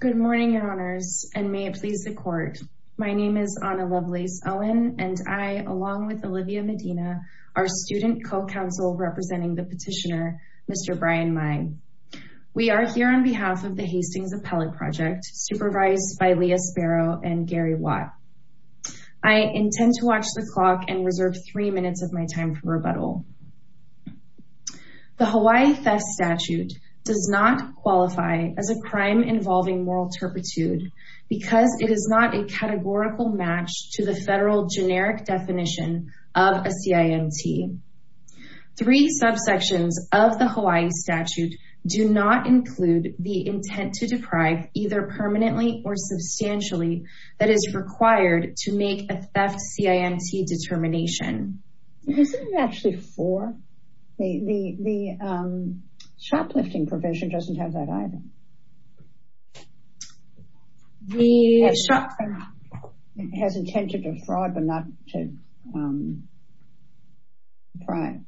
Good morning, your honors, and may it please the court. My name is Ana Lovelace-Owen, and I, along with Olivia Medina, are student co-counsel representing the petitioner, Mr. Brian Maie. We are here on behalf of the Hastings Appellate Project, supervised by Leah Sparrow and Gary Watt. I intend to watch the clock and reserve three minutes of my time for rebuttal. The Hawaii Theft Statute does not qualify as a crime involving moral turpitude because it is not a categorical match to the federal generic definition of a CIMT. Three subsections of the Hawaii Statute do not include the intent to deprive either permanently or substantially that is required to make a theft CIMT determination. Isn't it actually four? The shoplifting provision doesn't have that either. The shoplifting provision has intent to defraud but not to deprive.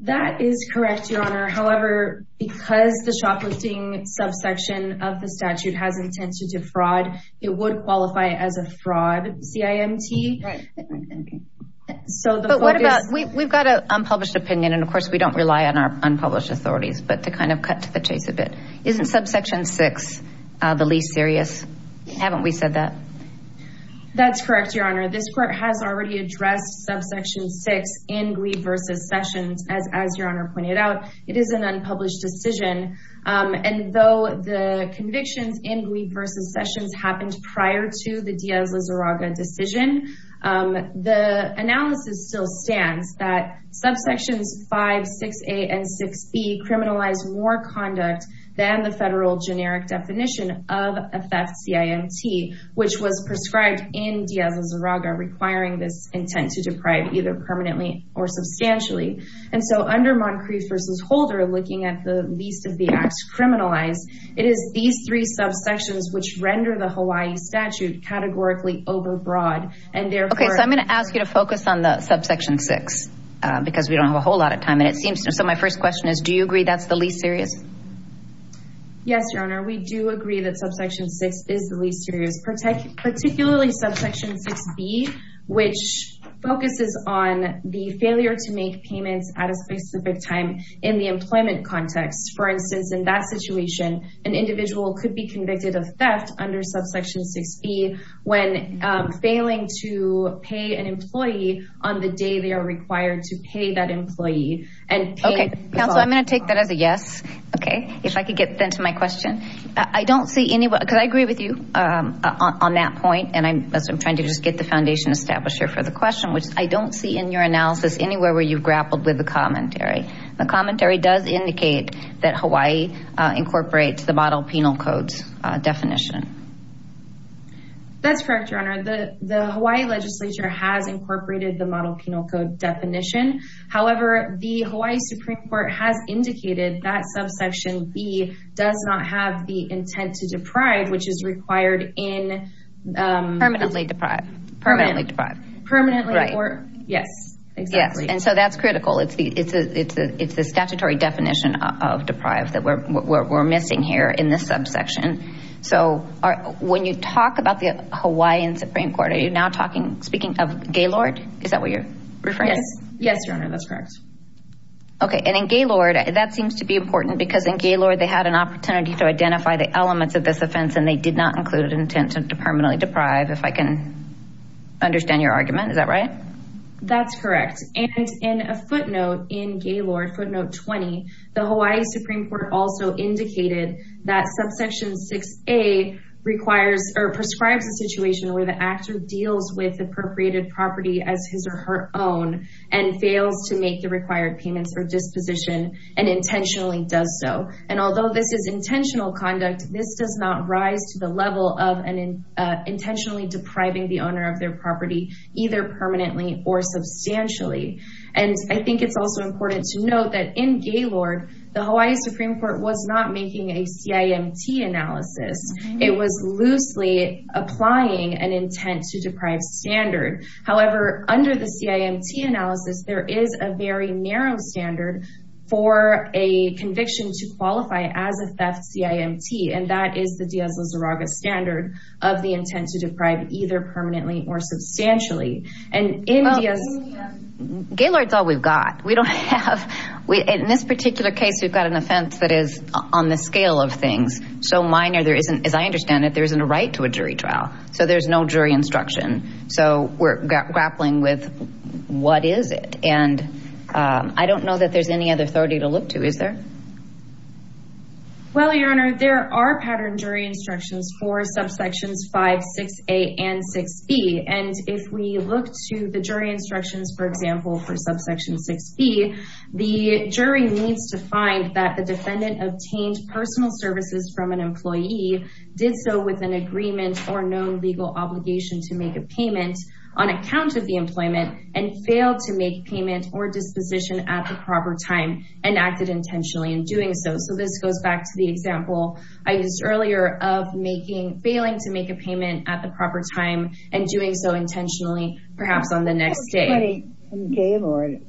That is correct, your honor. However, because the shoplifting subsection of the statute has intent to defraud, it would qualify as a fraud CIMT. We've got an unpublished opinion, and of course we don't rely on our unpublished authorities, but to kind of cut to the chase a bit, isn't subsection 6 the least serious? Haven't we said that? That's correct, your honor. This court has already addressed subsection 6 in Greve v. Sessions. As your honor pointed out, it is an unpublished decision. Though the convictions in Greve v. Sessions happened prior to the Diaz-Lizarraga decision, the analysis still stands that subsections 5, 6a, and 6b criminalize more conduct than the federal generic definition of a theft CIMT, which was prescribed in Diaz-Lizarraga requiring this intent to deprive either permanently or substantially. And so under Moncrief v. Holder, looking at the least of the acts criminalized, it is these three subsections which render the Hawaii statute categorically overbroad. Okay, so I'm going to ask you to focus on the subsection 6, because we don't have a whole lot of time. So my first question is, do you agree that's the least serious? Yes, your honor. We do agree that subsection 6 is the least serious, particularly subsection 6b, which focuses on the failure to make payments at a specific time in the employment context. For instance, in that situation, an individual could be convicted of theft under subsection 6b when failing to pay an employee on the day they are required to pay that employee. Okay, counsel, I'm going to take that as a yes. Okay, if I could get then to my question. I don't see any, because I agree with you on that point, and I'm trying to just get the foundation established here for the question, which I don't see in your analysis anywhere where you've grappled with the commentary. The commentary does indicate that Hawaii incorporates the model penal codes definition. That's correct, your honor. The Hawaii legislature has incorporated the model penal code definition. However, the Hawaii Supreme Court has indicated that subsection b does not have the intent to deprive, which is required in… Permanently deprive. Permanently deprive. Permanently or… Right. Yes, exactly. And so that's critical. It's the statutory definition of deprive that we're missing here in this subsection. So when you talk about the Hawaiian Supreme Court, are you now talking, speaking of Gaylord? Is that what you're referring to? Yes, your honor, that's correct. Okay, and in Gaylord, that seems to be important because in Gaylord they had an opportunity to identify the elements of this offense and they did not include an intent to permanently deprive, if I can understand your argument. Is that right? That's correct. And in a footnote in Gaylord, footnote 20, the Hawaii Supreme Court also indicated that subsection 6a requires or prescribes a situation where the actor deals with appropriated property as his or her own and fails to make the required payments or disposition and intentionally does so. And although this is intentional conduct, this does not rise to the level of an intentionally depriving the owner of their property either permanently or substantially. And I think it's also important to note that in Gaylord, the Hawaii Supreme Court was not making a CIMT analysis. It was loosely applying an intent to deprive standard. However, under the CIMT analysis, there is a very narrow standard for a conviction to qualify as a theft CIMT, and that is the Diaz-Lizarraga standard of the intent to deprive either permanently or substantially. Gaylord's all we've got. We don't have, in this particular case, we've got an offense that is on the scale of things so minor there isn't, as I understand it, there isn't a right to a jury trial. So there's no jury instruction. So we're grappling with what is it? And I don't know that there's any other authority to look to, is there? Well, Your Honor, there are pattern jury instructions for subsections 5, 6A and 6B. And if we look to the jury instructions, for example, for subsection 6B, the jury needs to find that the defendant obtained personal services from an employee, did so with an agreement or known legal obligation to make a payment on account of the employment and failed to make payment or disposition at the proper time and acted intentionally in doing so. So this goes back to the example I used earlier of failing to make a payment at the proper time and doing so intentionally, perhaps on the next day. And Gaylord,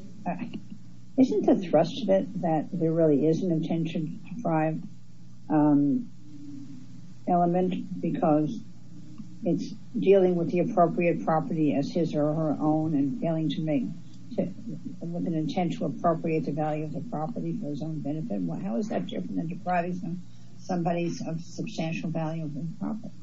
isn't the thrust of it that there really is an intention deprived element because it's dealing with the appropriate property as his or her own and failing to make, with an intent to appropriate the value of the property for his own benefit? How is that different than depriving somebody of substantial value of their property?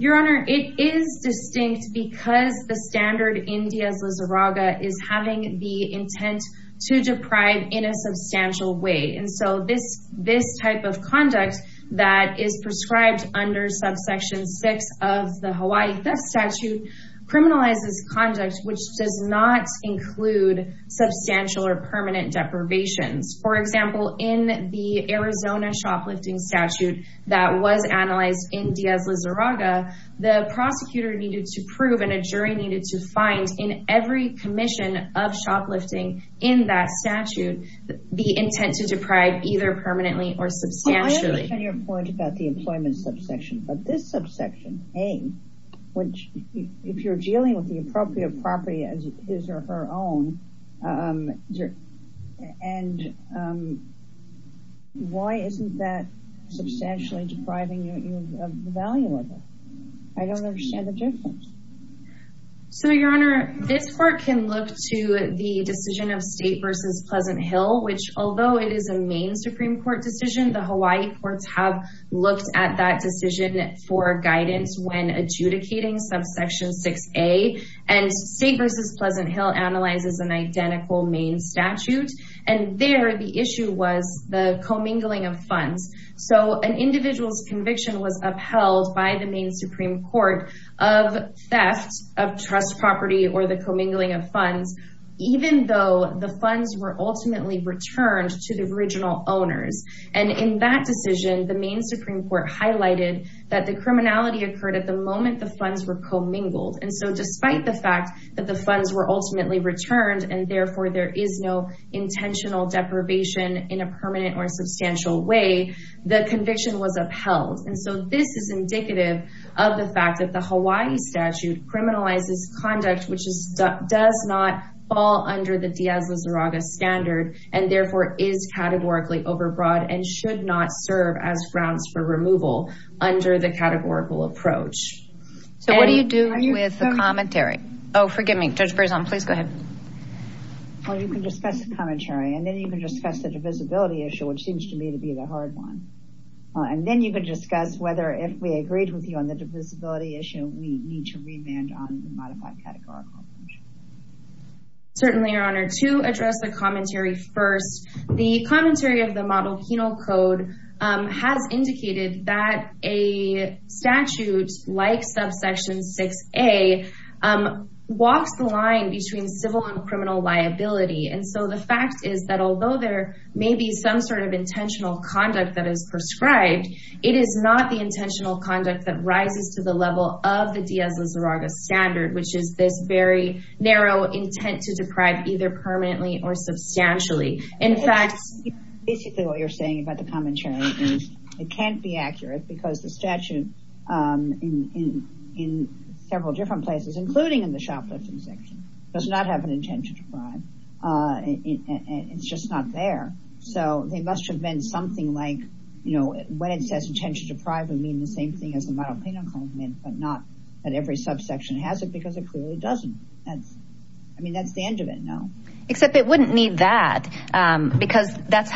Your Honor, it is distinct because the standard in Diaz-Lizarraga is having the intent to deprive in a substantial way. And so this type of conduct that is prescribed under subsection 6 of the Hawaii theft statute criminalizes conduct which does not include substantial or permanent deprivations. For example, in the Arizona shoplifting statute that was analyzed in Diaz-Lizarraga, the prosecutor needed to prove and a jury needed to find in every commission of shoplifting in that statute the intent to deprive either permanently or substantially. I understand your point about the employment subsection, but this subsection, A, which if you're dealing with the appropriate property as his or her own, and why isn't that substantially depriving you of the value of it? I don't understand the difference. Your Honor, this court can look to the decision of State v. Pleasant Hill, which although it is a Maine Supreme Court decision, the Hawaii courts have looked at that decision for guidance when adjudicating subsection 6A. And State v. Pleasant Hill analyzes an identical Maine statute, and there the issue was the commingling of funds. So an individual's conviction was upheld by the Maine Supreme Court of theft of trust property or the commingling of funds, even though the funds were ultimately returned to the original owners. And in that decision, the Maine Supreme Court highlighted that the criminality occurred at the moment the funds were commingled. And so despite the fact that the funds were ultimately returned, and therefore there is no intentional deprivation in a permanent or substantial way, the conviction was upheld. And so this is indicative of the fact that the Hawaii statute criminalizes conduct which does not fall under the Diaz-Lazaraga standard, and therefore is categorically overbroad and should not serve as grounds for removal under the categorical approach. So what do you do with the commentary? Oh, forgive me, Judge Berzon, please go ahead. Well, you can discuss the commentary, and then you can discuss the divisibility issue, which seems to me to be the hard one. And then you can discuss whether if we agreed with you on the divisibility issue, we need to remand on the modified categorical approach. Certainly, Your Honor, to address the commentary first, the commentary of the model penal code has indicated that a statute like subsection 6A walks the line between civil and criminal liability. And so the fact is that although there may be some sort of intentional conduct that is prescribed, it is not the intentional conduct that rises to the level of the Diaz-Lazaraga standard, which is this very narrow intent to deprive either permanently or substantially. Basically, what you're saying about the commentary is it can't be accurate because the statute in several different places, including in the shoplifting section, does not have an intent to deprive. It's just not there. So there must have been something like, you know, when it says intention to deprive, we mean the same thing as the model penal code meant, but not that every subsection has it because it clearly doesn't. I mean, that's the end of it now. Except it wouldn't need that because that's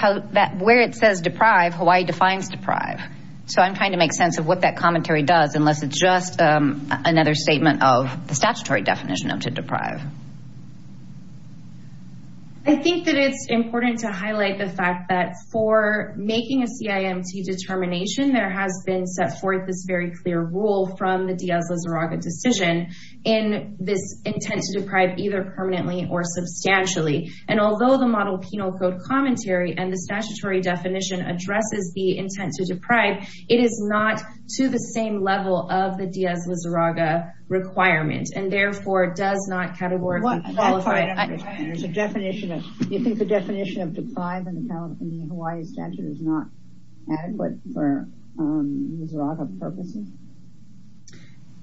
where it says deprive, Hawaii defines deprive. So I'm trying to make sense of what that commentary does, unless it's just another statement of the statutory definition of to deprive. I think that it's important to highlight the fact that for making a CIMT determination, there has been set forth this very clear rule from the Diaz-Lazaraga decision in this intent to deprive either permanently or substantially. And although the model penal code commentary and the statutory definition addresses the intent to deprive, it is not to the same level of the Diaz-Lazaraga requirement and therefore does not categorically qualify. You think the definition of deprive in the Hawaii statute is not adequate for Lazaraga purposes?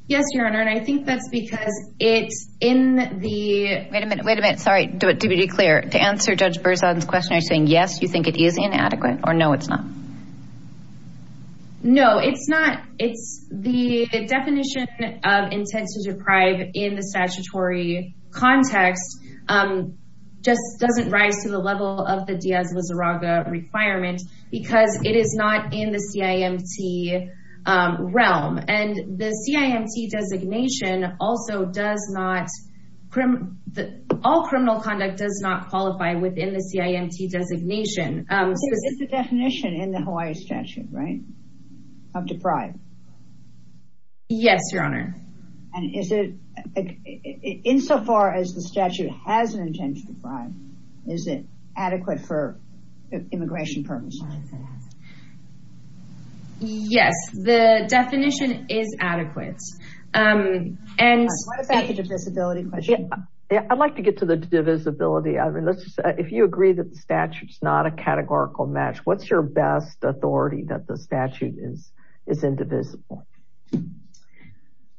Yes, Your Honor. And I think that's because it's in the... Wait a minute. Wait a minute. Sorry. To be clear, to answer Judge Berzon's question, are you saying, yes, you think it is inadequate or no, it's not? No, it's not. It's the definition of intent to deprive in the statutory context just doesn't rise to the level of the Diaz-Lazaraga requirement because it is not in the CIMT realm. And the CIMT designation also does not... All criminal conduct does not qualify within the CIMT designation. It's the definition in the Hawaii statute, right? Of deprive. Yes, Your Honor. And is it, insofar as the statute has an intent to deprive, is it adequate for immigration purposes? Yes, the definition is adequate. What about the divisibility question? I'd like to get to the divisibility. If you agree that the statute is not a categorical match, what's your best authority that the statute is indivisible?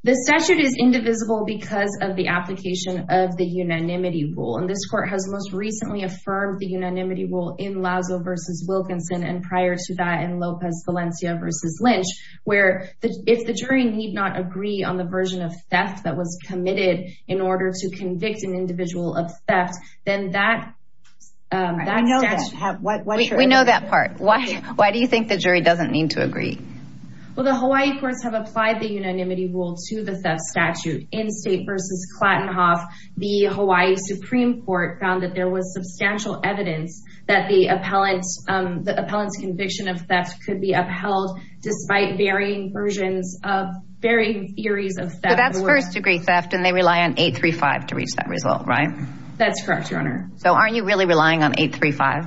The statute is indivisible because of the application of the unanimity rule. And this court has most recently affirmed the unanimity rule in Lazo v. Wilkinson and prior to that in Lopez Valencia v. Lynch, where if the jury need not agree on the version of theft that was committed in order to convict an individual of theft, then that... I know that. What's your... We know that part. Why do you think the jury doesn't need to agree? Well, the Hawaii courts have applied the unanimity rule to the theft statute. In State v. Clattenhoff, the Hawaii Supreme Court found that there was substantial evidence that the appellant's conviction of theft could be upheld, despite varying versions of, varying theories of theft. But that's first-degree theft, and they rely on 835 to reach that result, right? That's correct, Your Honor. So aren't you really relying on 835?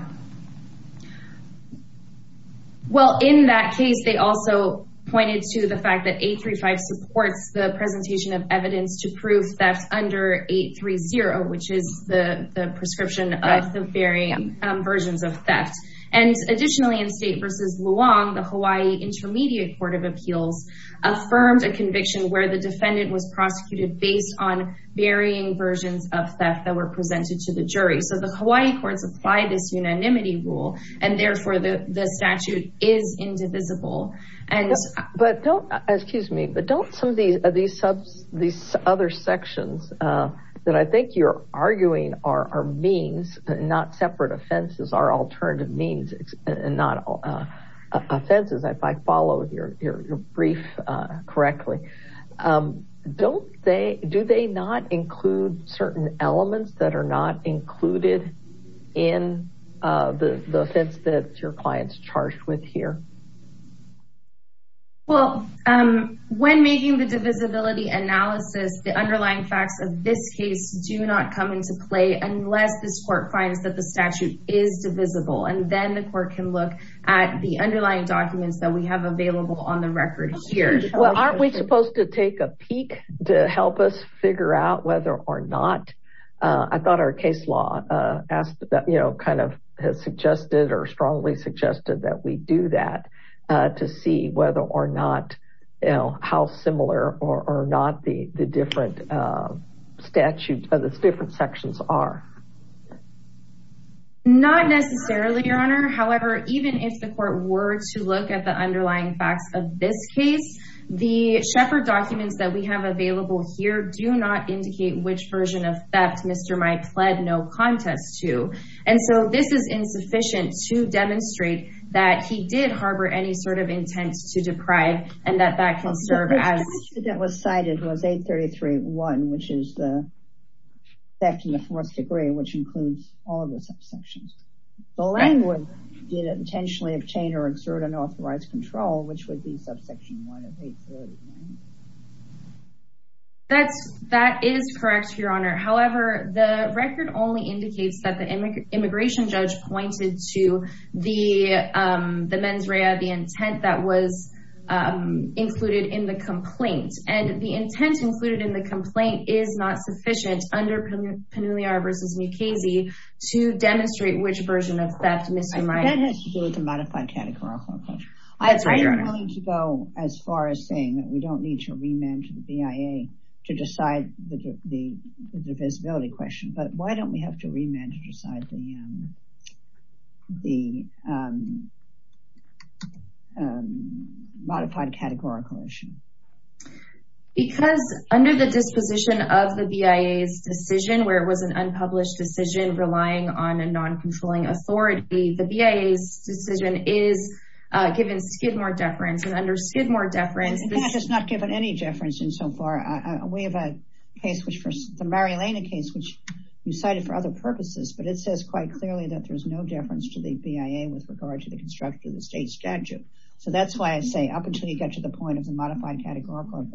Well, in that case, they also pointed to the fact that 835 supports the presentation of evidence to prove theft under 830, which is the prescription of the varying versions of theft. And additionally, in State v. Luong, the Hawaii Intermediate Court of Appeals affirmed a conviction where the defendant was prosecuted based on varying versions of theft that were presented to the jury. So the Hawaii courts applied this unanimity rule, and therefore the statute is indivisible. But don't, excuse me, but don't some of these other sections that I think you're arguing are means, not separate offenses, are alternative means and not offenses, if I followed your brief correctly. Don't they, do they not include certain elements that are not included in the offense that your client's charged with here? Well, when making the divisibility analysis, the underlying facts of this case do not come into play unless this court finds that the statute is divisible. And then the court can look at the underlying documents that we have available on the record here. Well, aren't we supposed to take a peek to help us figure out whether or not, I thought our case law asked, you know, kind of has suggested or strongly suggested that we do that to see whether or not, you know, how similar or not the different statutes of the different sections are. Not necessarily, Your Honor. However, even if the court were to look at the underlying facts of this case, the Sheppard documents that we have available here do not indicate which version of theft Mr. Mai pled no contest to. And so this is insufficient to demonstrate that he did harbor any sort of intent to deprive and that that can serve as... The version that was cited was 833.1, which is the theft in the fourth degree, which includes all of the subsections. Belangwood did intentionally obtain or exert unauthorized control, which would be subsection 1 of 833. That is correct, Your Honor. However, the record only indicates that the immigration judge pointed to the mens rea, the intent that was included in the complaint. And the intent included in the complaint is not sufficient under Pannuliar v. Mukasey to demonstrate which version of theft Mr. Mai... That has to do with the modified categorical... That's right, Your Honor. I'm willing to go as far as saying that we don't need to remand to the BIA to decide the divisibility question. But why don't we have to remand to decide the modified categorical issue? Because under the disposition of the BIA's decision, where it was an unpublished decision relying on a non-controlling authority, the BIA's decision is given Skidmore deference. And under Skidmore deference... It's not given any deference in so far. We have a case, the Marilena case, which you cited for other purposes, but it says quite clearly that there's no deference to the BIA with regard to the construction of the state statute. So that's why I say, up until you get to the point of the modified categorical,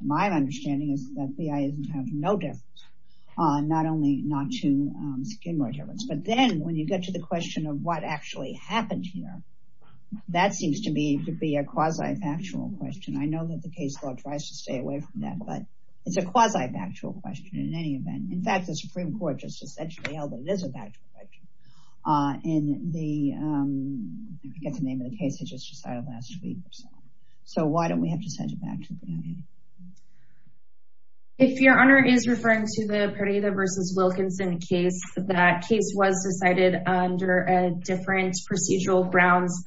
my understanding is that the BIA is entitled to no deference, not only not to Skidmore deference. But then, when you get to the question of what actually happened here, that seems to be a quasi-factual question. I know that the case law tries to stay away from that, but it's a quasi-factual question in any event. In fact, the Supreme Court just essentially held that it is a factual question. And the... I forget the name of the case I just cited last week. So why don't we have to send it back to the BIA? If Your Honor is referring to the Pereira v. Wilkinson case, that case was decided under a different procedural grounds,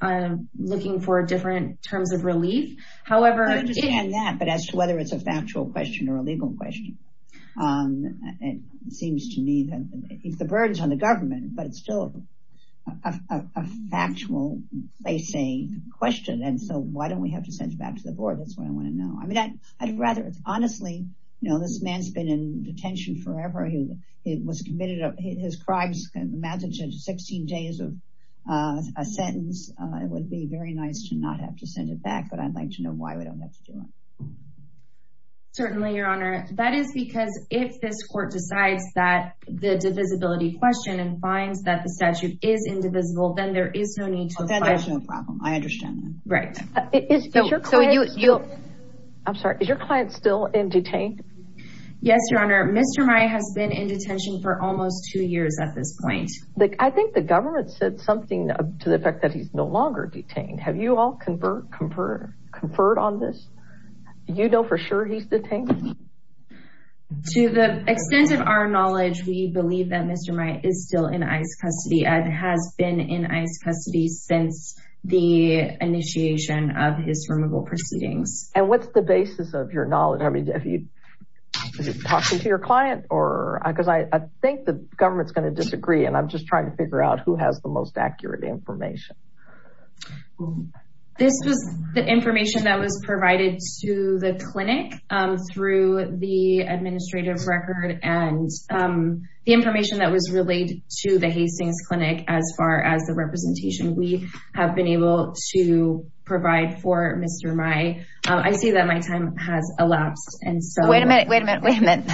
looking for different terms of relief. However... I understand that, but as to whether it's a factual question or a legal question, it seems to me that... It's the burdens on the government, but it's still a factual, they say, question. And so, why don't we have to send it back to the Board? That's what I want to know. I mean, I'd rather... Honestly, this man's been in detention forever. He was committed... His crimes, imagine 16 days of a sentence. It would be very nice to not have to send it back, but I'd like to know why we don't have to do it. Certainly, Your Honor. That is because if this Court decides that the divisibility question and finds that the statute is indivisible, then there is no need to apply... I understand that. Right. I'm sorry, is your client still in detainment? Yes, Your Honor. Mr. Maia has been in detention for almost two years at this point. I think the government said something to the effect that he's no longer detained. Have you all conferred on this? Do you know for sure he's detained? To the extent of our knowledge, we believe that Mr. Maia is still in ICE custody and has been in ICE custody since the initiation of his removal proceedings. And what's the basis of your knowledge? I mean, have you talked to your client? Because I think the government's going to disagree, and I'm just trying to figure out who has the most accurate information. This was the information that was provided to the clinic through the administrative record and the information that was relayed to the Hastings Clinic as far as the representation we have been able to provide for Mr. Maia. I see that my time has elapsed and so... Wait a minute, wait a minute, wait a minute.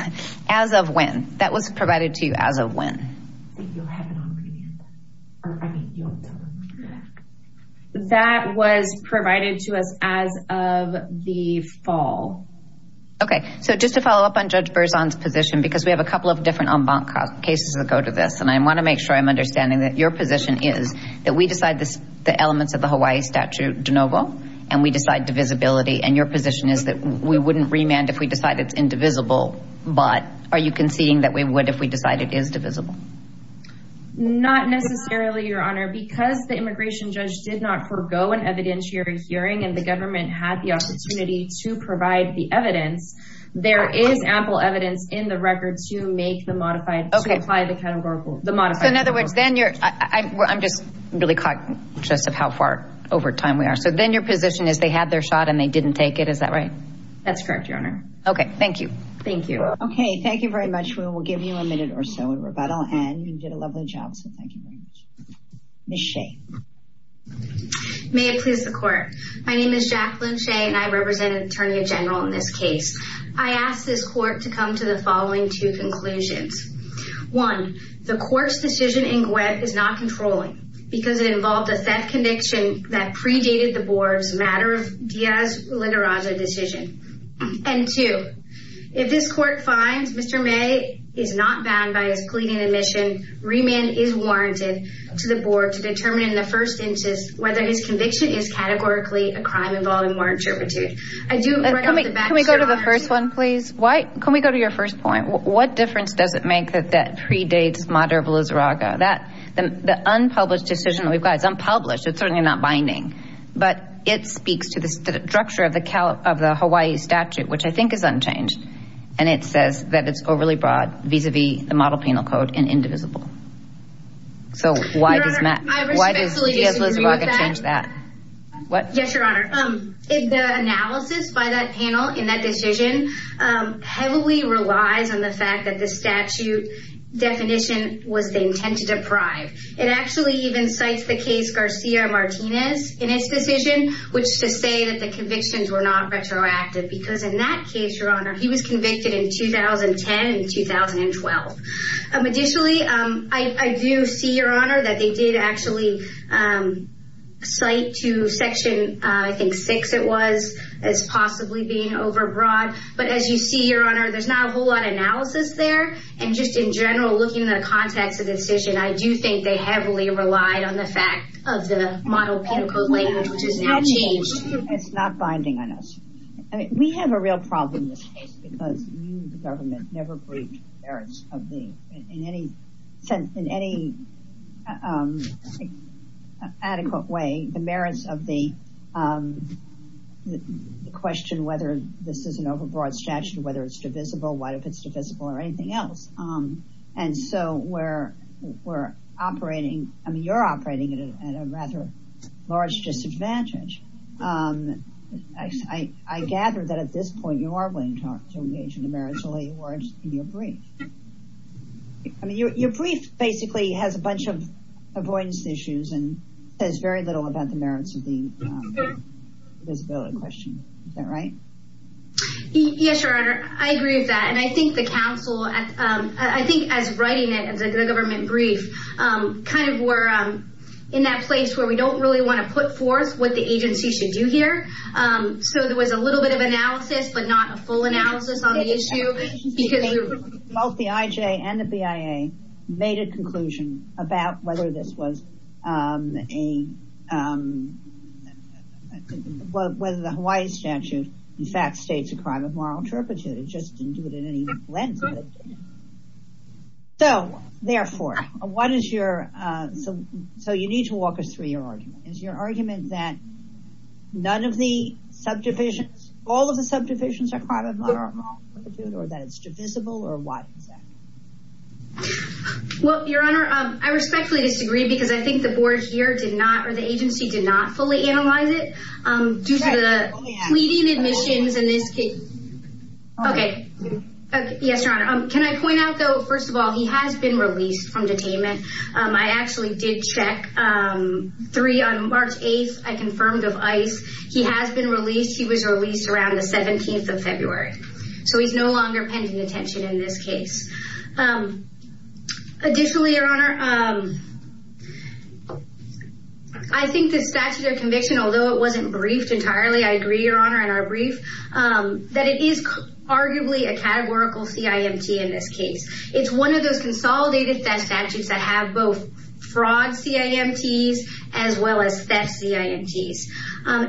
As of when? That was provided to you as of when? That was provided to us as of the fall. Okay, so just to follow up on Judge Berzon's position, because we have a couple of different en banc cases that go to this, and I want to make sure I'm understanding that your position is that we decide the elements of the Hawaii statute de novo, and we decide divisibility, and your position is that we wouldn't remand if we decide it's indivisible, but are you conceding that we would if we decided it is divisible? Not necessarily, Your Honor, because the immigration judge did not forego an evidentiary hearing and the government had the opportunity to provide the evidence. There is ample evidence in the record to make the modified, to apply the categorical, the modified. So, in other words, then you're, I'm just really conscious of how far over time we are, so then your position is they had their shot and they didn't take it, is that right? That's correct, Your Honor. Okay, thank you. Thank you. Okay, thank you very much. We will give you a minute or so in rebuttal, and you did a lovely job, so thank you very much. Ms. Shea. May it please the Court. My name is Jacqueline Shea, and I represent an attorney general in this case. I ask this Court to come to the following two conclusions. One, the Court's decision in GWEB is not controlling because it involved a theft conviction that predated the Board's matter of dias literata decision. And two, if this Court finds Mr. May is not bound by his pleading admission, remand is warranted to the Board to determine in the first instance whether his conviction is categorically a crime involving warranted servitude. Can we go to the first one, please? Can we go to your first point? What difference does it make that that predates matter of literata? The unpublished decision that we've got is unpublished. It's certainly not binding. But it speaks to the structure of the Hawaii statute, which I think is unchanged, and it says that it's overly broad vis-a-vis the model penal code and indivisible. So why does Diaz-Lizarraga change that? Yes, Your Honor. The analysis by that panel in that decision heavily relies on the fact that the statute definition was the intent to deprive. It actually even cites the case Garcia-Martinez in its decision, which to say that the convictions were not retroactive, because in that case, Your Honor, he was convicted in 2010 and 2012. Additionally, I do see, Your Honor, that they did actually cite to Section, I think, 6 it was, as possibly being overbroad. But as you see, Your Honor, there's not a whole lot of analysis there. And just in general, looking at the context of the decision, I do think they heavily relied on the fact of the model penal code language, which has now changed. It's not binding on us. We have a real problem in this case, because you, the government, never briefed the merits of the, in any sense, in any adequate way, the merits of the question whether this is an overbroad statute, whether it's divisible, what if it's divisible, or anything else. And so we're operating, I mean, you're operating at a rather large disadvantage. I gather that at this point, you are willing to talk to the agent of merits in your brief. I mean, your brief basically has a bunch of avoidance issues and says very little about the merits of the divisibility question. Is that right? Yes, Your Honor, I agree with that. And I think the counsel, I think as writing it, as a government brief, kind of we're in that place where we don't really want to put forth what the agency should do here. So there was a little bit of analysis, but not a full analysis on the issue. Both the IJ and the BIA made a conclusion about whether this was a, whether the Hawaii statute in fact states a crime of moral turpitude. It just didn't do it in any lens of it. So, therefore, what is your, so you need to walk us through your argument. Is your argument that none of the subdivisions, all of the subdivisions are a crime of moral turpitude, or that it's divisible, or what is that? Well, Your Honor, I respectfully disagree because I think the board here did not, or the agency did not fully analyze it. Due to the tweeting admissions in this case. Okay. Yes, Your Honor. Can I point out, though, first of all, he has been released from detainment. I actually did check. Three, on March 8th, I confirmed of ICE. He has been released. He was released around the 17th of February. So he's no longer pending detention in this case. Additionally, Your Honor, I think the statute of conviction, although it wasn't briefed entirely, I agree, Your Honor, in our brief, that it is arguably a categorical CIMT in this case. It's one of those consolidated theft statutes that have both fraud CIMTs as well as theft CIMTs.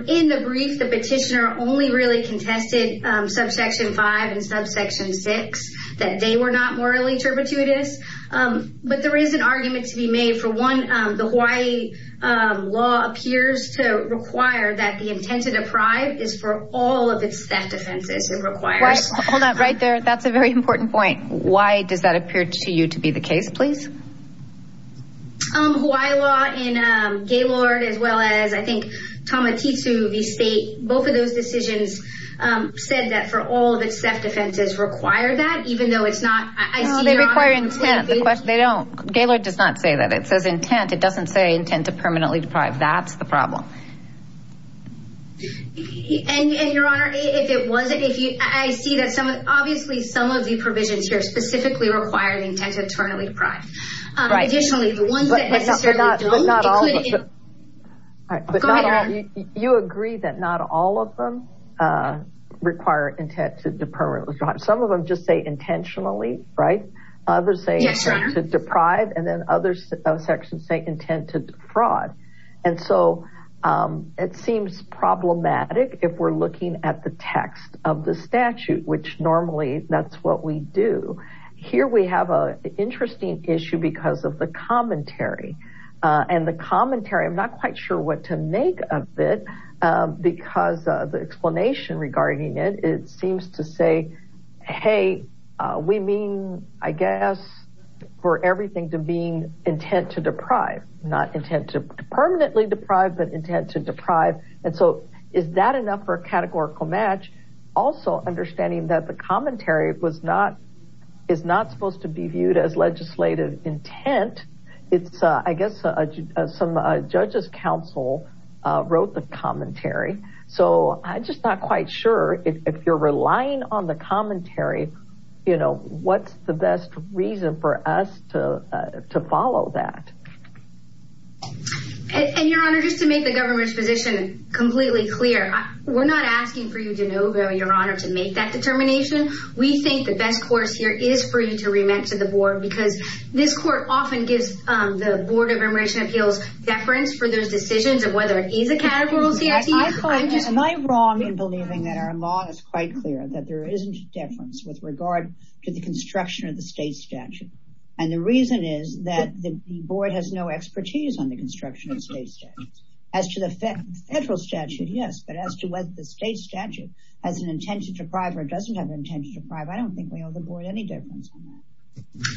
In the brief, the petitioner only really contested subsection 5 and subsection 6, that they were not morally turpitudous. But there is an argument to be made. For one, the Hawaii law appears to require that the intent to deprive is for all of its theft offenses. It requires... Hold on. Right there, that's a very important point. Why does that appear to you to be the case, please? Hawaii law in Gaylord as well as, I think, Tamatitsu v. State, both of those decisions said that for all of its theft offenses require that, even though it's not ICE. No, they require intent. They don't. Gaylord does not say that. It says intent. It doesn't say intent to permanently deprive. That's the problem. And, Your Honor, if it wasn't... I see that obviously some of the provisions here specifically require intent to permanently deprive. Additionally, the ones that necessarily don't... But not all of them. Go ahead, Ann. You agree that not all of them require intent to permanently deprive. Some of them just say intentionally, right? Yes, Your Honor. Others say intent to deprive, and then other sections say intent to defraud. And so it seems problematic if we're looking at the text of the statute, which normally that's what we do. Here we have an interesting issue because of the commentary. And the commentary, I'm not quite sure what to make of it because of the explanation regarding it. It seems to say, hey, we mean, I guess, for everything to mean intent to deprive, not intent to permanently deprive, but intent to deprive. And so is that enough for a categorical match? Also understanding that the commentary is not supposed to be viewed as legislative intent. It's, I guess, some judge's counsel wrote the commentary. So I'm just not quite sure. If you're relying on the commentary, what's the best reason for us to follow that? And, Your Honor, just to make the government's position completely clear, we're not asking for you to know, Your Honor, to make that determination. We think the best course here is for you to remit to the board because this court often gives the Board of Immigration Appeals deference for those decisions of whether it is a categorical statute. Am I wrong in believing that our law is quite clear, that there isn't deference with regard to the construction of the state statute? And the reason is that the board has no expertise on the construction of state statutes. As to the federal statute, yes. But as to whether the state statute has an intention to deprive or doesn't have an intention to deprive, I don't think we owe the board any deference on that.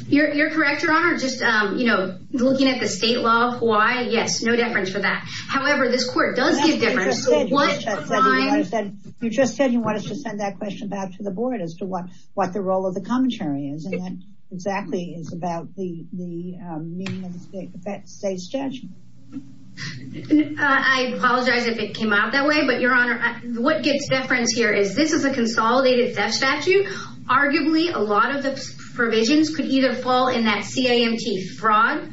You're correct, Your Honor. Just looking at the state law of Hawaii, yes, no deference for that. However, this court does give deference. You just said you want us to send that question back to the board as to what the role of the commentary is. And that exactly is about the meaning of the state statute. I apologize if it came out that way, but, Your Honor, what gives deference here is this is a consolidated theft statute. Arguably, a lot of the provisions could either fall in that CIMT fraud,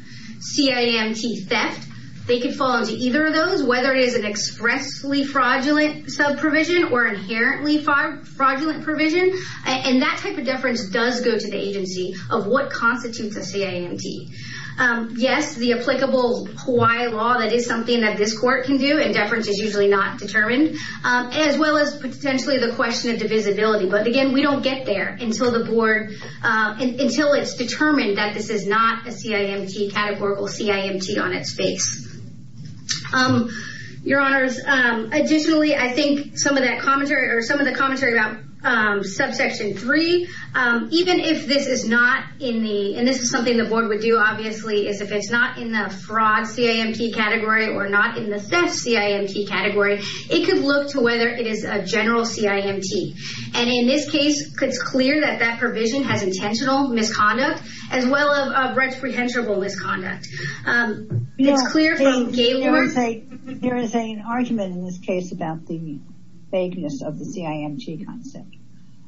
CIMT theft. They could fall into either of those, whether it is an expressly fraudulent subprovision or inherently fraudulent provision. And that type of deference does go to the agency of what constitutes a CIMT. Yes, the applicable Hawaii law, that is something that this court can do, and deference is usually not determined, as well as potentially the question of divisibility. But, again, we don't get there until it's determined that this is not a CIMT, categorical CIMT on its face. Your Honors, additionally, I think some of that commentary, or some of the commentary about subsection 3, even if this is not in the, and this is something the board would do, obviously, is if it's not in the fraud CIMT category or not in the theft CIMT category, it could look to whether it is a general CIMT. And in this case, it's clear that that provision has intentional misconduct as well as reprehensible misconduct. It's clear from Gaylord. There is an argument in this case about the vagueness of the CIMT concept.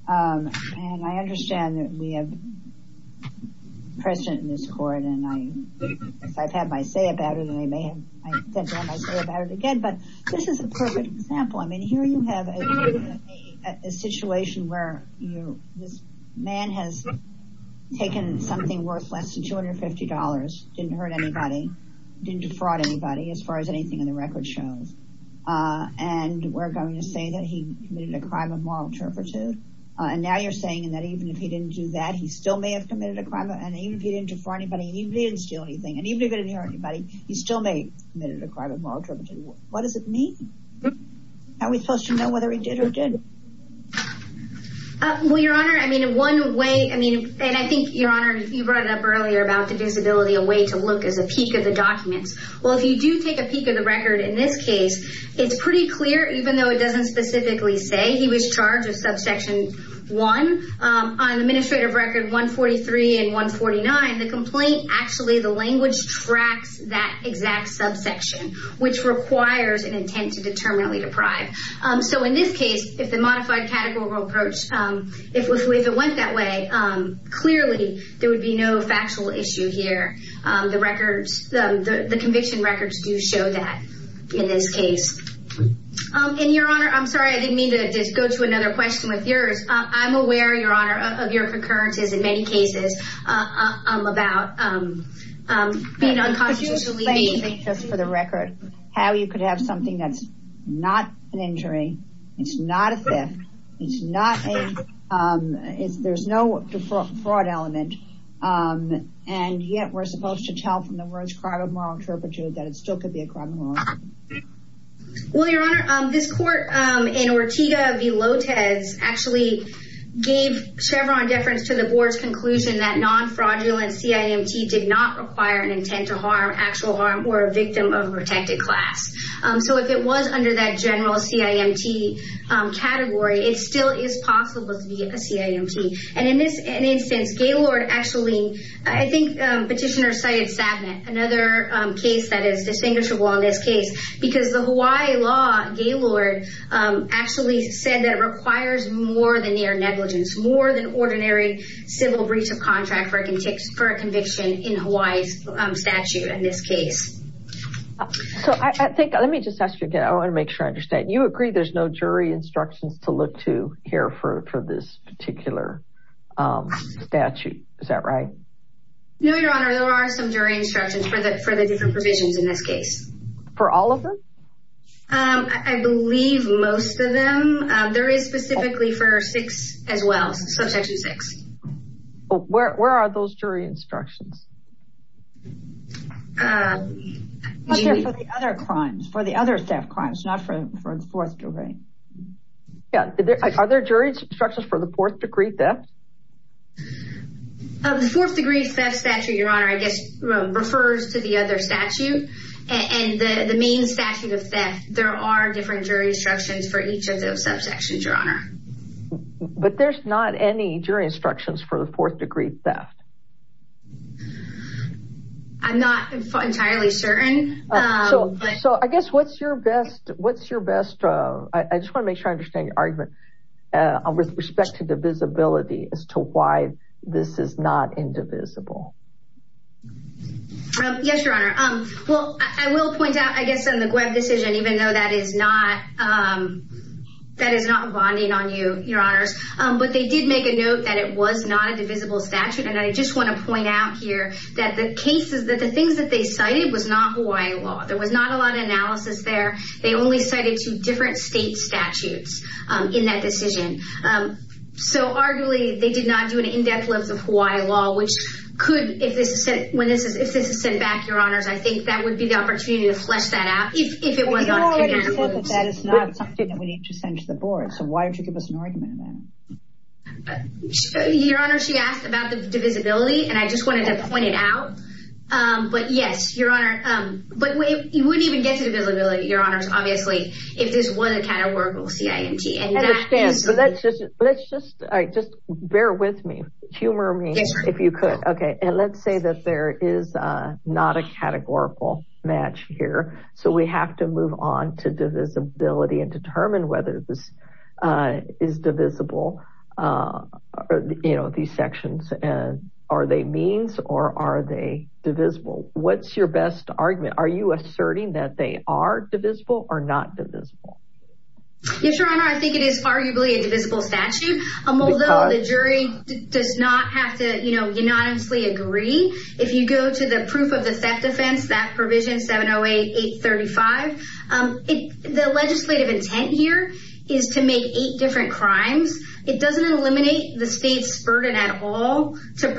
And I understand that we have precedent in this court, and I've had my say about it, and I may have said all my say about it again, but this is a perfect example. I mean, here you have a situation where this man has taken something worth less than $250, didn't hurt anybody, didn't defraud anybody, as far as anything in the record shows, and we're going to say that he committed a crime of moral turpitude. And now you're saying that even if he didn't do that, he still may have committed a crime, and even if he didn't defraud anybody, and even if he didn't steal anything, and even if he didn't hurt anybody, he still may have committed a crime of moral turpitude. What does it mean? How are we supposed to know whether he did or didn't? Well, Your Honor, I mean, in one way, I mean, and I think, Your Honor, you brought it up earlier about the visibility, a way to look as a peak of the documents. Well, if you do take a peak of the record in this case, it's pretty clear, even though it doesn't specifically say he was charged with subsection 1, on administrative record 143 and 149, the complaint actually, the language tracks that exact subsection, which requires an intent to determinately deprive. So in this case, if the modified categorical approach, if it went that way, clearly, there would be no factual issue here. The records, the conviction records do show that in this case. And, Your Honor, I'm sorry, I didn't mean to just go to another question with yours. I'm aware, Your Honor, of your concurrences in many cases about being unconstitutional. Could you explain, just for the record, how you could have something that's not an injury, it's not a theft, it's not a, there's no fraud element, and yet we're supposed to tell from the words crime of moral interpretation that it still could be a crime of moral interpretation. Well, Your Honor, this court in Ortega v. Lotez actually gave Chevron deference to the board's conclusion that non-fraudulent CIMT did not require an intent to harm, or actual harm, or a victim of a protected class. So if it was under that general CIMT category, it still is possible to be a CIMT. And in this instance, Gaylord actually, I think Petitioner cited Sabnett, another case that is distinguishable on this case, because the Hawaii law, Gaylord actually said that it requires more than mere negligence, more than ordinary civil breach of contract for a conviction in Hawaii's statute in this case. So I think, let me just ask you again, I want to make sure I understand. You agree there's no jury instructions to look to here for this particular statute, is that right? No, Your Honor, there are some jury instructions for the different provisions in this case. For all of them? I believe most of them. There is specifically for 6 as well, subsection 6. Where are those jury instructions? For the other crimes, for the other theft crimes, not for the 4th degree. Are there jury instructions for the 4th degree theft? The 4th degree theft statute, Your Honor, I guess refers to the other statute, and the main statute of theft, there are different jury instructions for each of those subsections, Your Honor. But there's not any jury instructions for the 4th degree theft. I'm not entirely certain. So I guess what's your best, I just want to make sure I understand your argument, with respect to divisibility, as to why this is not indivisible. Yes, Your Honor. Well, I will point out, I guess in the Gwebb decision, even though that is not bonding on you, Your Honors, but they did make a note that it was not a divisible statute, and I just want to point out here that the cases, that the things that they cited was not Hawaii law. There was not a lot of analysis there. They only cited two different state statutes in that decision. So arguably, they did not do an in-depth look at Hawaii law, which could, if this is sent back, Your Honors, I think that would be the opportunity to flesh that out, if it was not a divisible statute. Well, we've already said that that is not something that we need to send to the board. So why don't you give us an argument on that? Your Honor, she asked about the divisibility, and I just wanted to point it out. But yes, Your Honor. But you wouldn't even get to divisibility, Your Honors, obviously, if this was a categorical CIMT. I understand. But let's just, all right, just bear with me. Humor me if you could. Okay, and let's say that there is not a categorical match here. So we have to move on to divisibility and determine whether this is divisible, you know, these sections. Are they means or are they divisible? What's your best argument? Are you asserting that they are divisible or not divisible? Yes, Your Honor, I think it is arguably a divisible statute, although the jury does not have to unanimously agree. If you go to the proof of the theft offense, that provision, 708-835, the legislative intent here is to make eight different crimes. It doesn't eliminate the state's burden at all to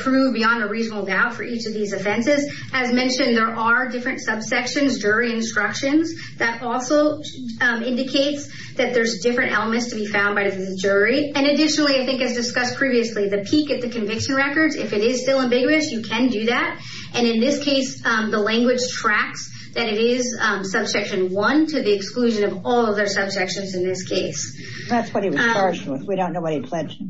prove beyond a reasonable doubt for each of these offenses. As mentioned, there are different subsections, jury instructions, that also indicates that there's different elements to be found by the jury. And additionally, I think as discussed previously, the peak at the conviction records, if it is still ambiguous, you can do that. And in this case, the language tracks that it is subsection one to the exclusion of all other subsections in this case. That's what he was partial with. We don't know what he pledged.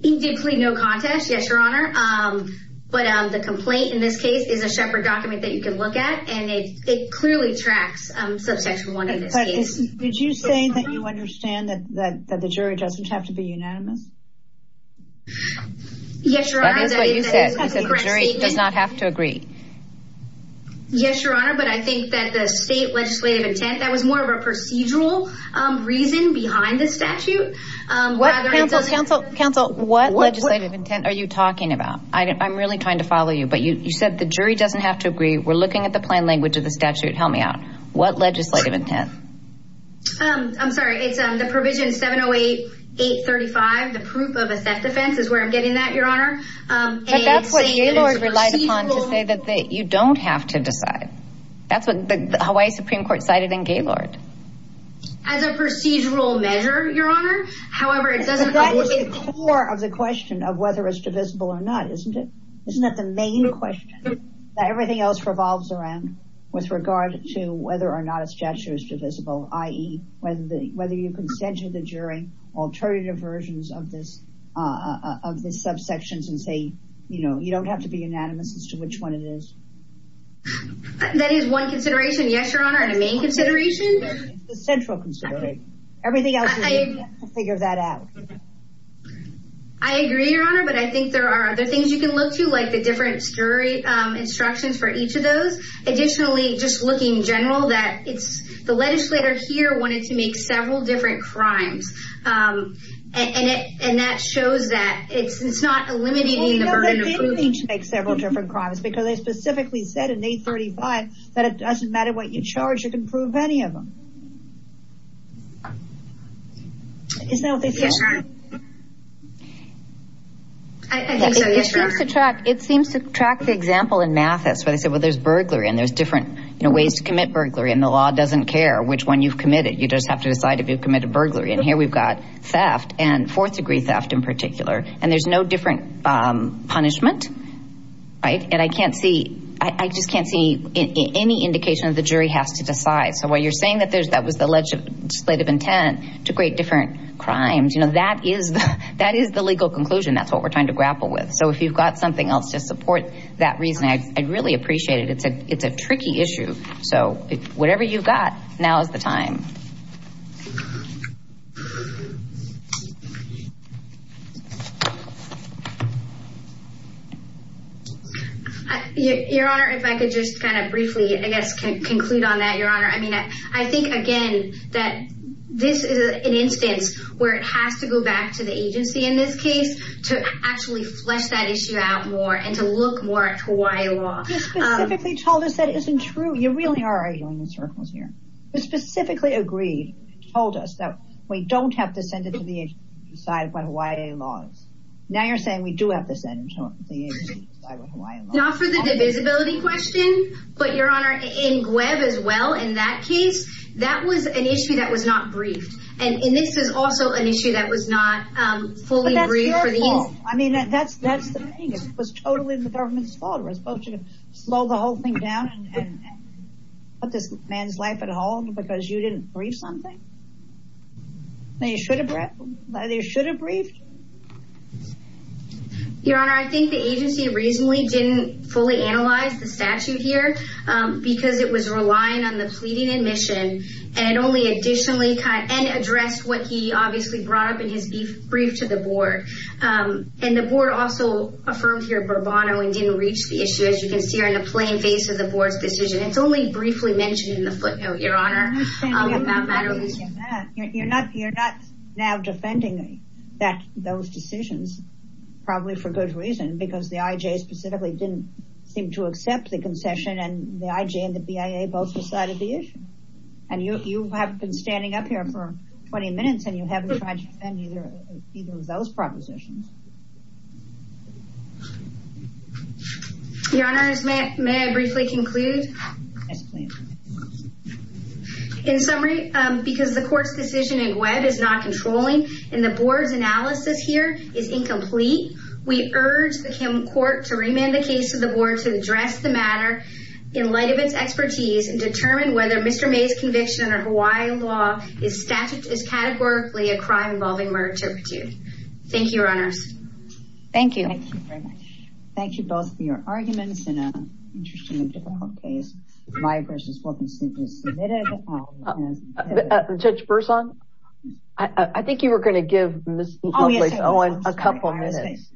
He did plead no contest. Yes, Your Honor. But the complaint in this case is a shepherd document that you can look at, and it clearly tracks subsection one in this case. Did you say that you understand that the jury doesn't have to be unanimous? Yes, Your Honor. That is what you said. You said the jury does not have to agree. Yes, Your Honor, but I think that the state legislative intent, that was more of a procedural reason behind the statute. Counsel, what legislative intent are you talking about? I'm really trying to follow you, but you said the jury doesn't have to agree. We're looking at the plain language of the statute. Help me out. What legislative intent? I'm sorry. It's the provision 708-835, the proof of a theft offense is where I'm getting that, Your Honor. But that's what Gaylord relied upon to say that you don't have to decide. That's what the Hawaii Supreme Court cited in Gaylord. As a procedural measure, Your Honor, however, it doesn't... That is the core of the question of whether it's divisible or not, isn't it? Isn't that the main question? Everything else revolves around with regard to whether or not a statute is divisible, i.e., whether you can send to the jury alternative versions of the subsections and say, you know, you don't have to be unanimous as to which one it is. That is one consideration, yes, Your Honor, and a main consideration. It's the central consideration. Everything else, we have to figure that out. I agree, Your Honor, but I think there are other things you can look to, like the different jury instructions for each of those. Additionally, just looking general, that it's... the legislature here wanted to make several different crimes. And that shows that it's not eliminating the burden of proving... because they specifically said in 835 that it doesn't matter what you charge, you can prove any of them. Isn't that what they said? Yes, Your Honor. I think so, yes, Your Honor. It seems to track the example in Mathis where they said, well, there's burglary, and there's different ways to commit burglary, and the law doesn't care which one you've committed. You just have to decide if you've committed burglary. And here we've got theft, and fourth-degree theft in particular. And there's no different punishment, right? And I can't see... I just can't see any indication that the jury has to decide. So while you're saying that that was the legislative intent to create different crimes, you know, that is the legal conclusion. That's what we're trying to grapple with. So if you've got something else to support that reasoning, I'd really appreciate it. It's a tricky issue. So whatever you've got, now is the time. Thank you. Your Honor, if I could just kind of briefly, I guess, conclude on that, Your Honor. I mean, I think, again, that this is an instance where it has to go back to the agency in this case to actually flesh that issue out more and to look more at Hawaii law. You specifically told us that isn't true. You really are arguing in circles here. You specifically agreed, told us that we don't have to send it to the agency to decide what Hawaii law is. Now you're saying we do have to send it to the agency to decide what Hawaii law is. Not for the divisibility question, but, Your Honor, in GUEV as well, in that case, that was an issue that was not briefed. And this is also an issue that was not fully briefed. But that's your fault. I mean, that's the thing. It was totally the government's fault. It was supposed to slow the whole thing down and put this man's life at home because you didn't brief something. They should have briefed. Your Honor, I think the agency reasonably didn't fully analyze the statute here because it was relying on the pleading admission. And it only additionally addressed what he obviously brought up in his brief to the board. And the board also affirmed here bravado and didn't reach the issue, as you can see here, in the plain face of the board's decision. It's only briefly mentioned in the footnote, Your Honor. You're not now defending those decisions, probably for good reason, because the IJ specifically didn't seem to accept the concession. And the IJ and the BIA both decided the issue. And you have been standing up here for 20 minutes and you haven't tried to defend either of those propositions. Your Honor, may I briefly conclude? Yes, please. In summary, because the court's decision in GWEB is not controlling and the board's analysis here is incomplete, we urge the court to remand the case to the board to address the matter in light of its expertise and determine whether Mr. May's conviction under Hawaii law is categorically a crime involving murder or torture. Thank you, Your Honors. Thank you. Thank you very much. Thank you both for your arguments in an interestingly difficult case. My questions will be simply submitted. Judge Berzon, I think you were going to give Ms. Lovelace a couple minutes.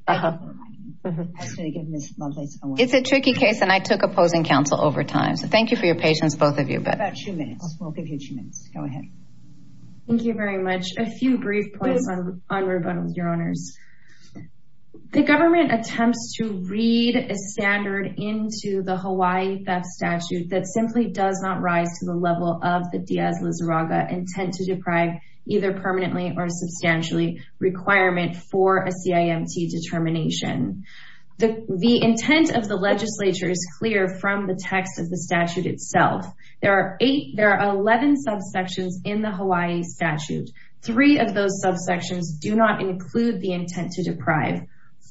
It's a tricky case and I took opposing counsel over time, so thank you for your patience, both of you. About two minutes. We'll give you two minutes. Go ahead. A few brief points on rebuttal, Your Honors. The government attempts to read a standard into the Hawaii theft statute that simply does not rise to the level of the Diaz-Lizarraga intent to deprive either permanently or substantially requirement for a CIMT determination. The intent of the legislature is clear from the text of the statute itself. There are 11 subsections in the Hawaii statute. Three of those subsections do not include the intent to deprive.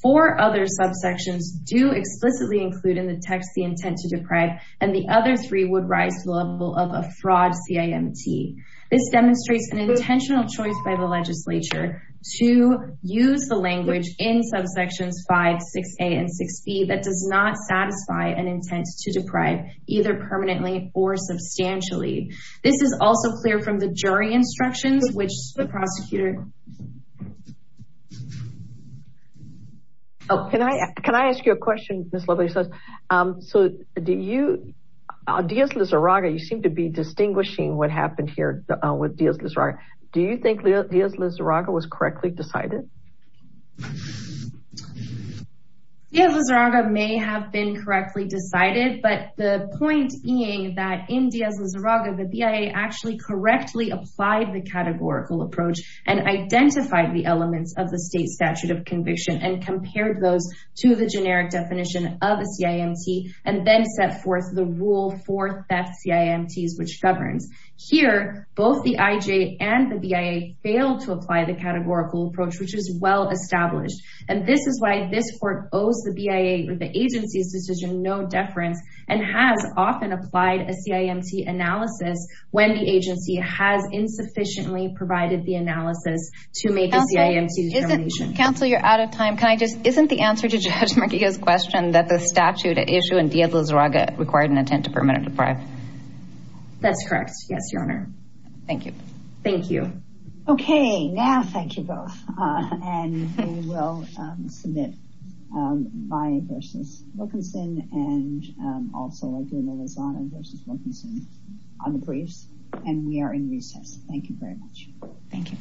Four other subsections do explicitly include in the text the intent to deprive, and the other three would rise to the level of a fraud CIMT. This demonstrates an intentional choice by the legislature to use the language in subsections 5, 6A, and 6B that does not satisfy an intent to deprive either permanently or substantially. This is also clear from the jury instructions, which the prosecutor... Can I ask you a question, Ms. Lovelace? So, Diaz-Lizarraga, you seem to be distinguishing what happened here with Diaz-Lizarraga. Do you think Diaz-Lizarraga was correctly decided? Diaz-Lizarraga may have been correctly decided, but the point being that in Diaz-Lizarraga, the BIA actually correctly applied the categorical approach and identified the elements of the state statute of conviction and compared those to the generic definition of a CIMT and then set forth the rule for theft CIMTs, which governs. Here, both the IJ and the BIA failed to apply the categorical approach, which is well-established. And this is why this court owes the BIA or the agency's decision no deference and has often applied a CIMT analysis when the agency has insufficiently provided the analysis to make a CIMT determination. Counsel, you're out of time. Can I just... Isn't the answer to Judge Marquiga's question that the statute at issue in Diaz-Lizarraga required an intent to permanently deprive? That's correct. Yes, Your Honor. Thank you. Thank you. Okay. Now, thank you both. And we will submit BIA v. Wilkinson and also Diaz-Lizarraga v. Wilkinson on the briefs. And we are in recess. Thank you very much. Thank you.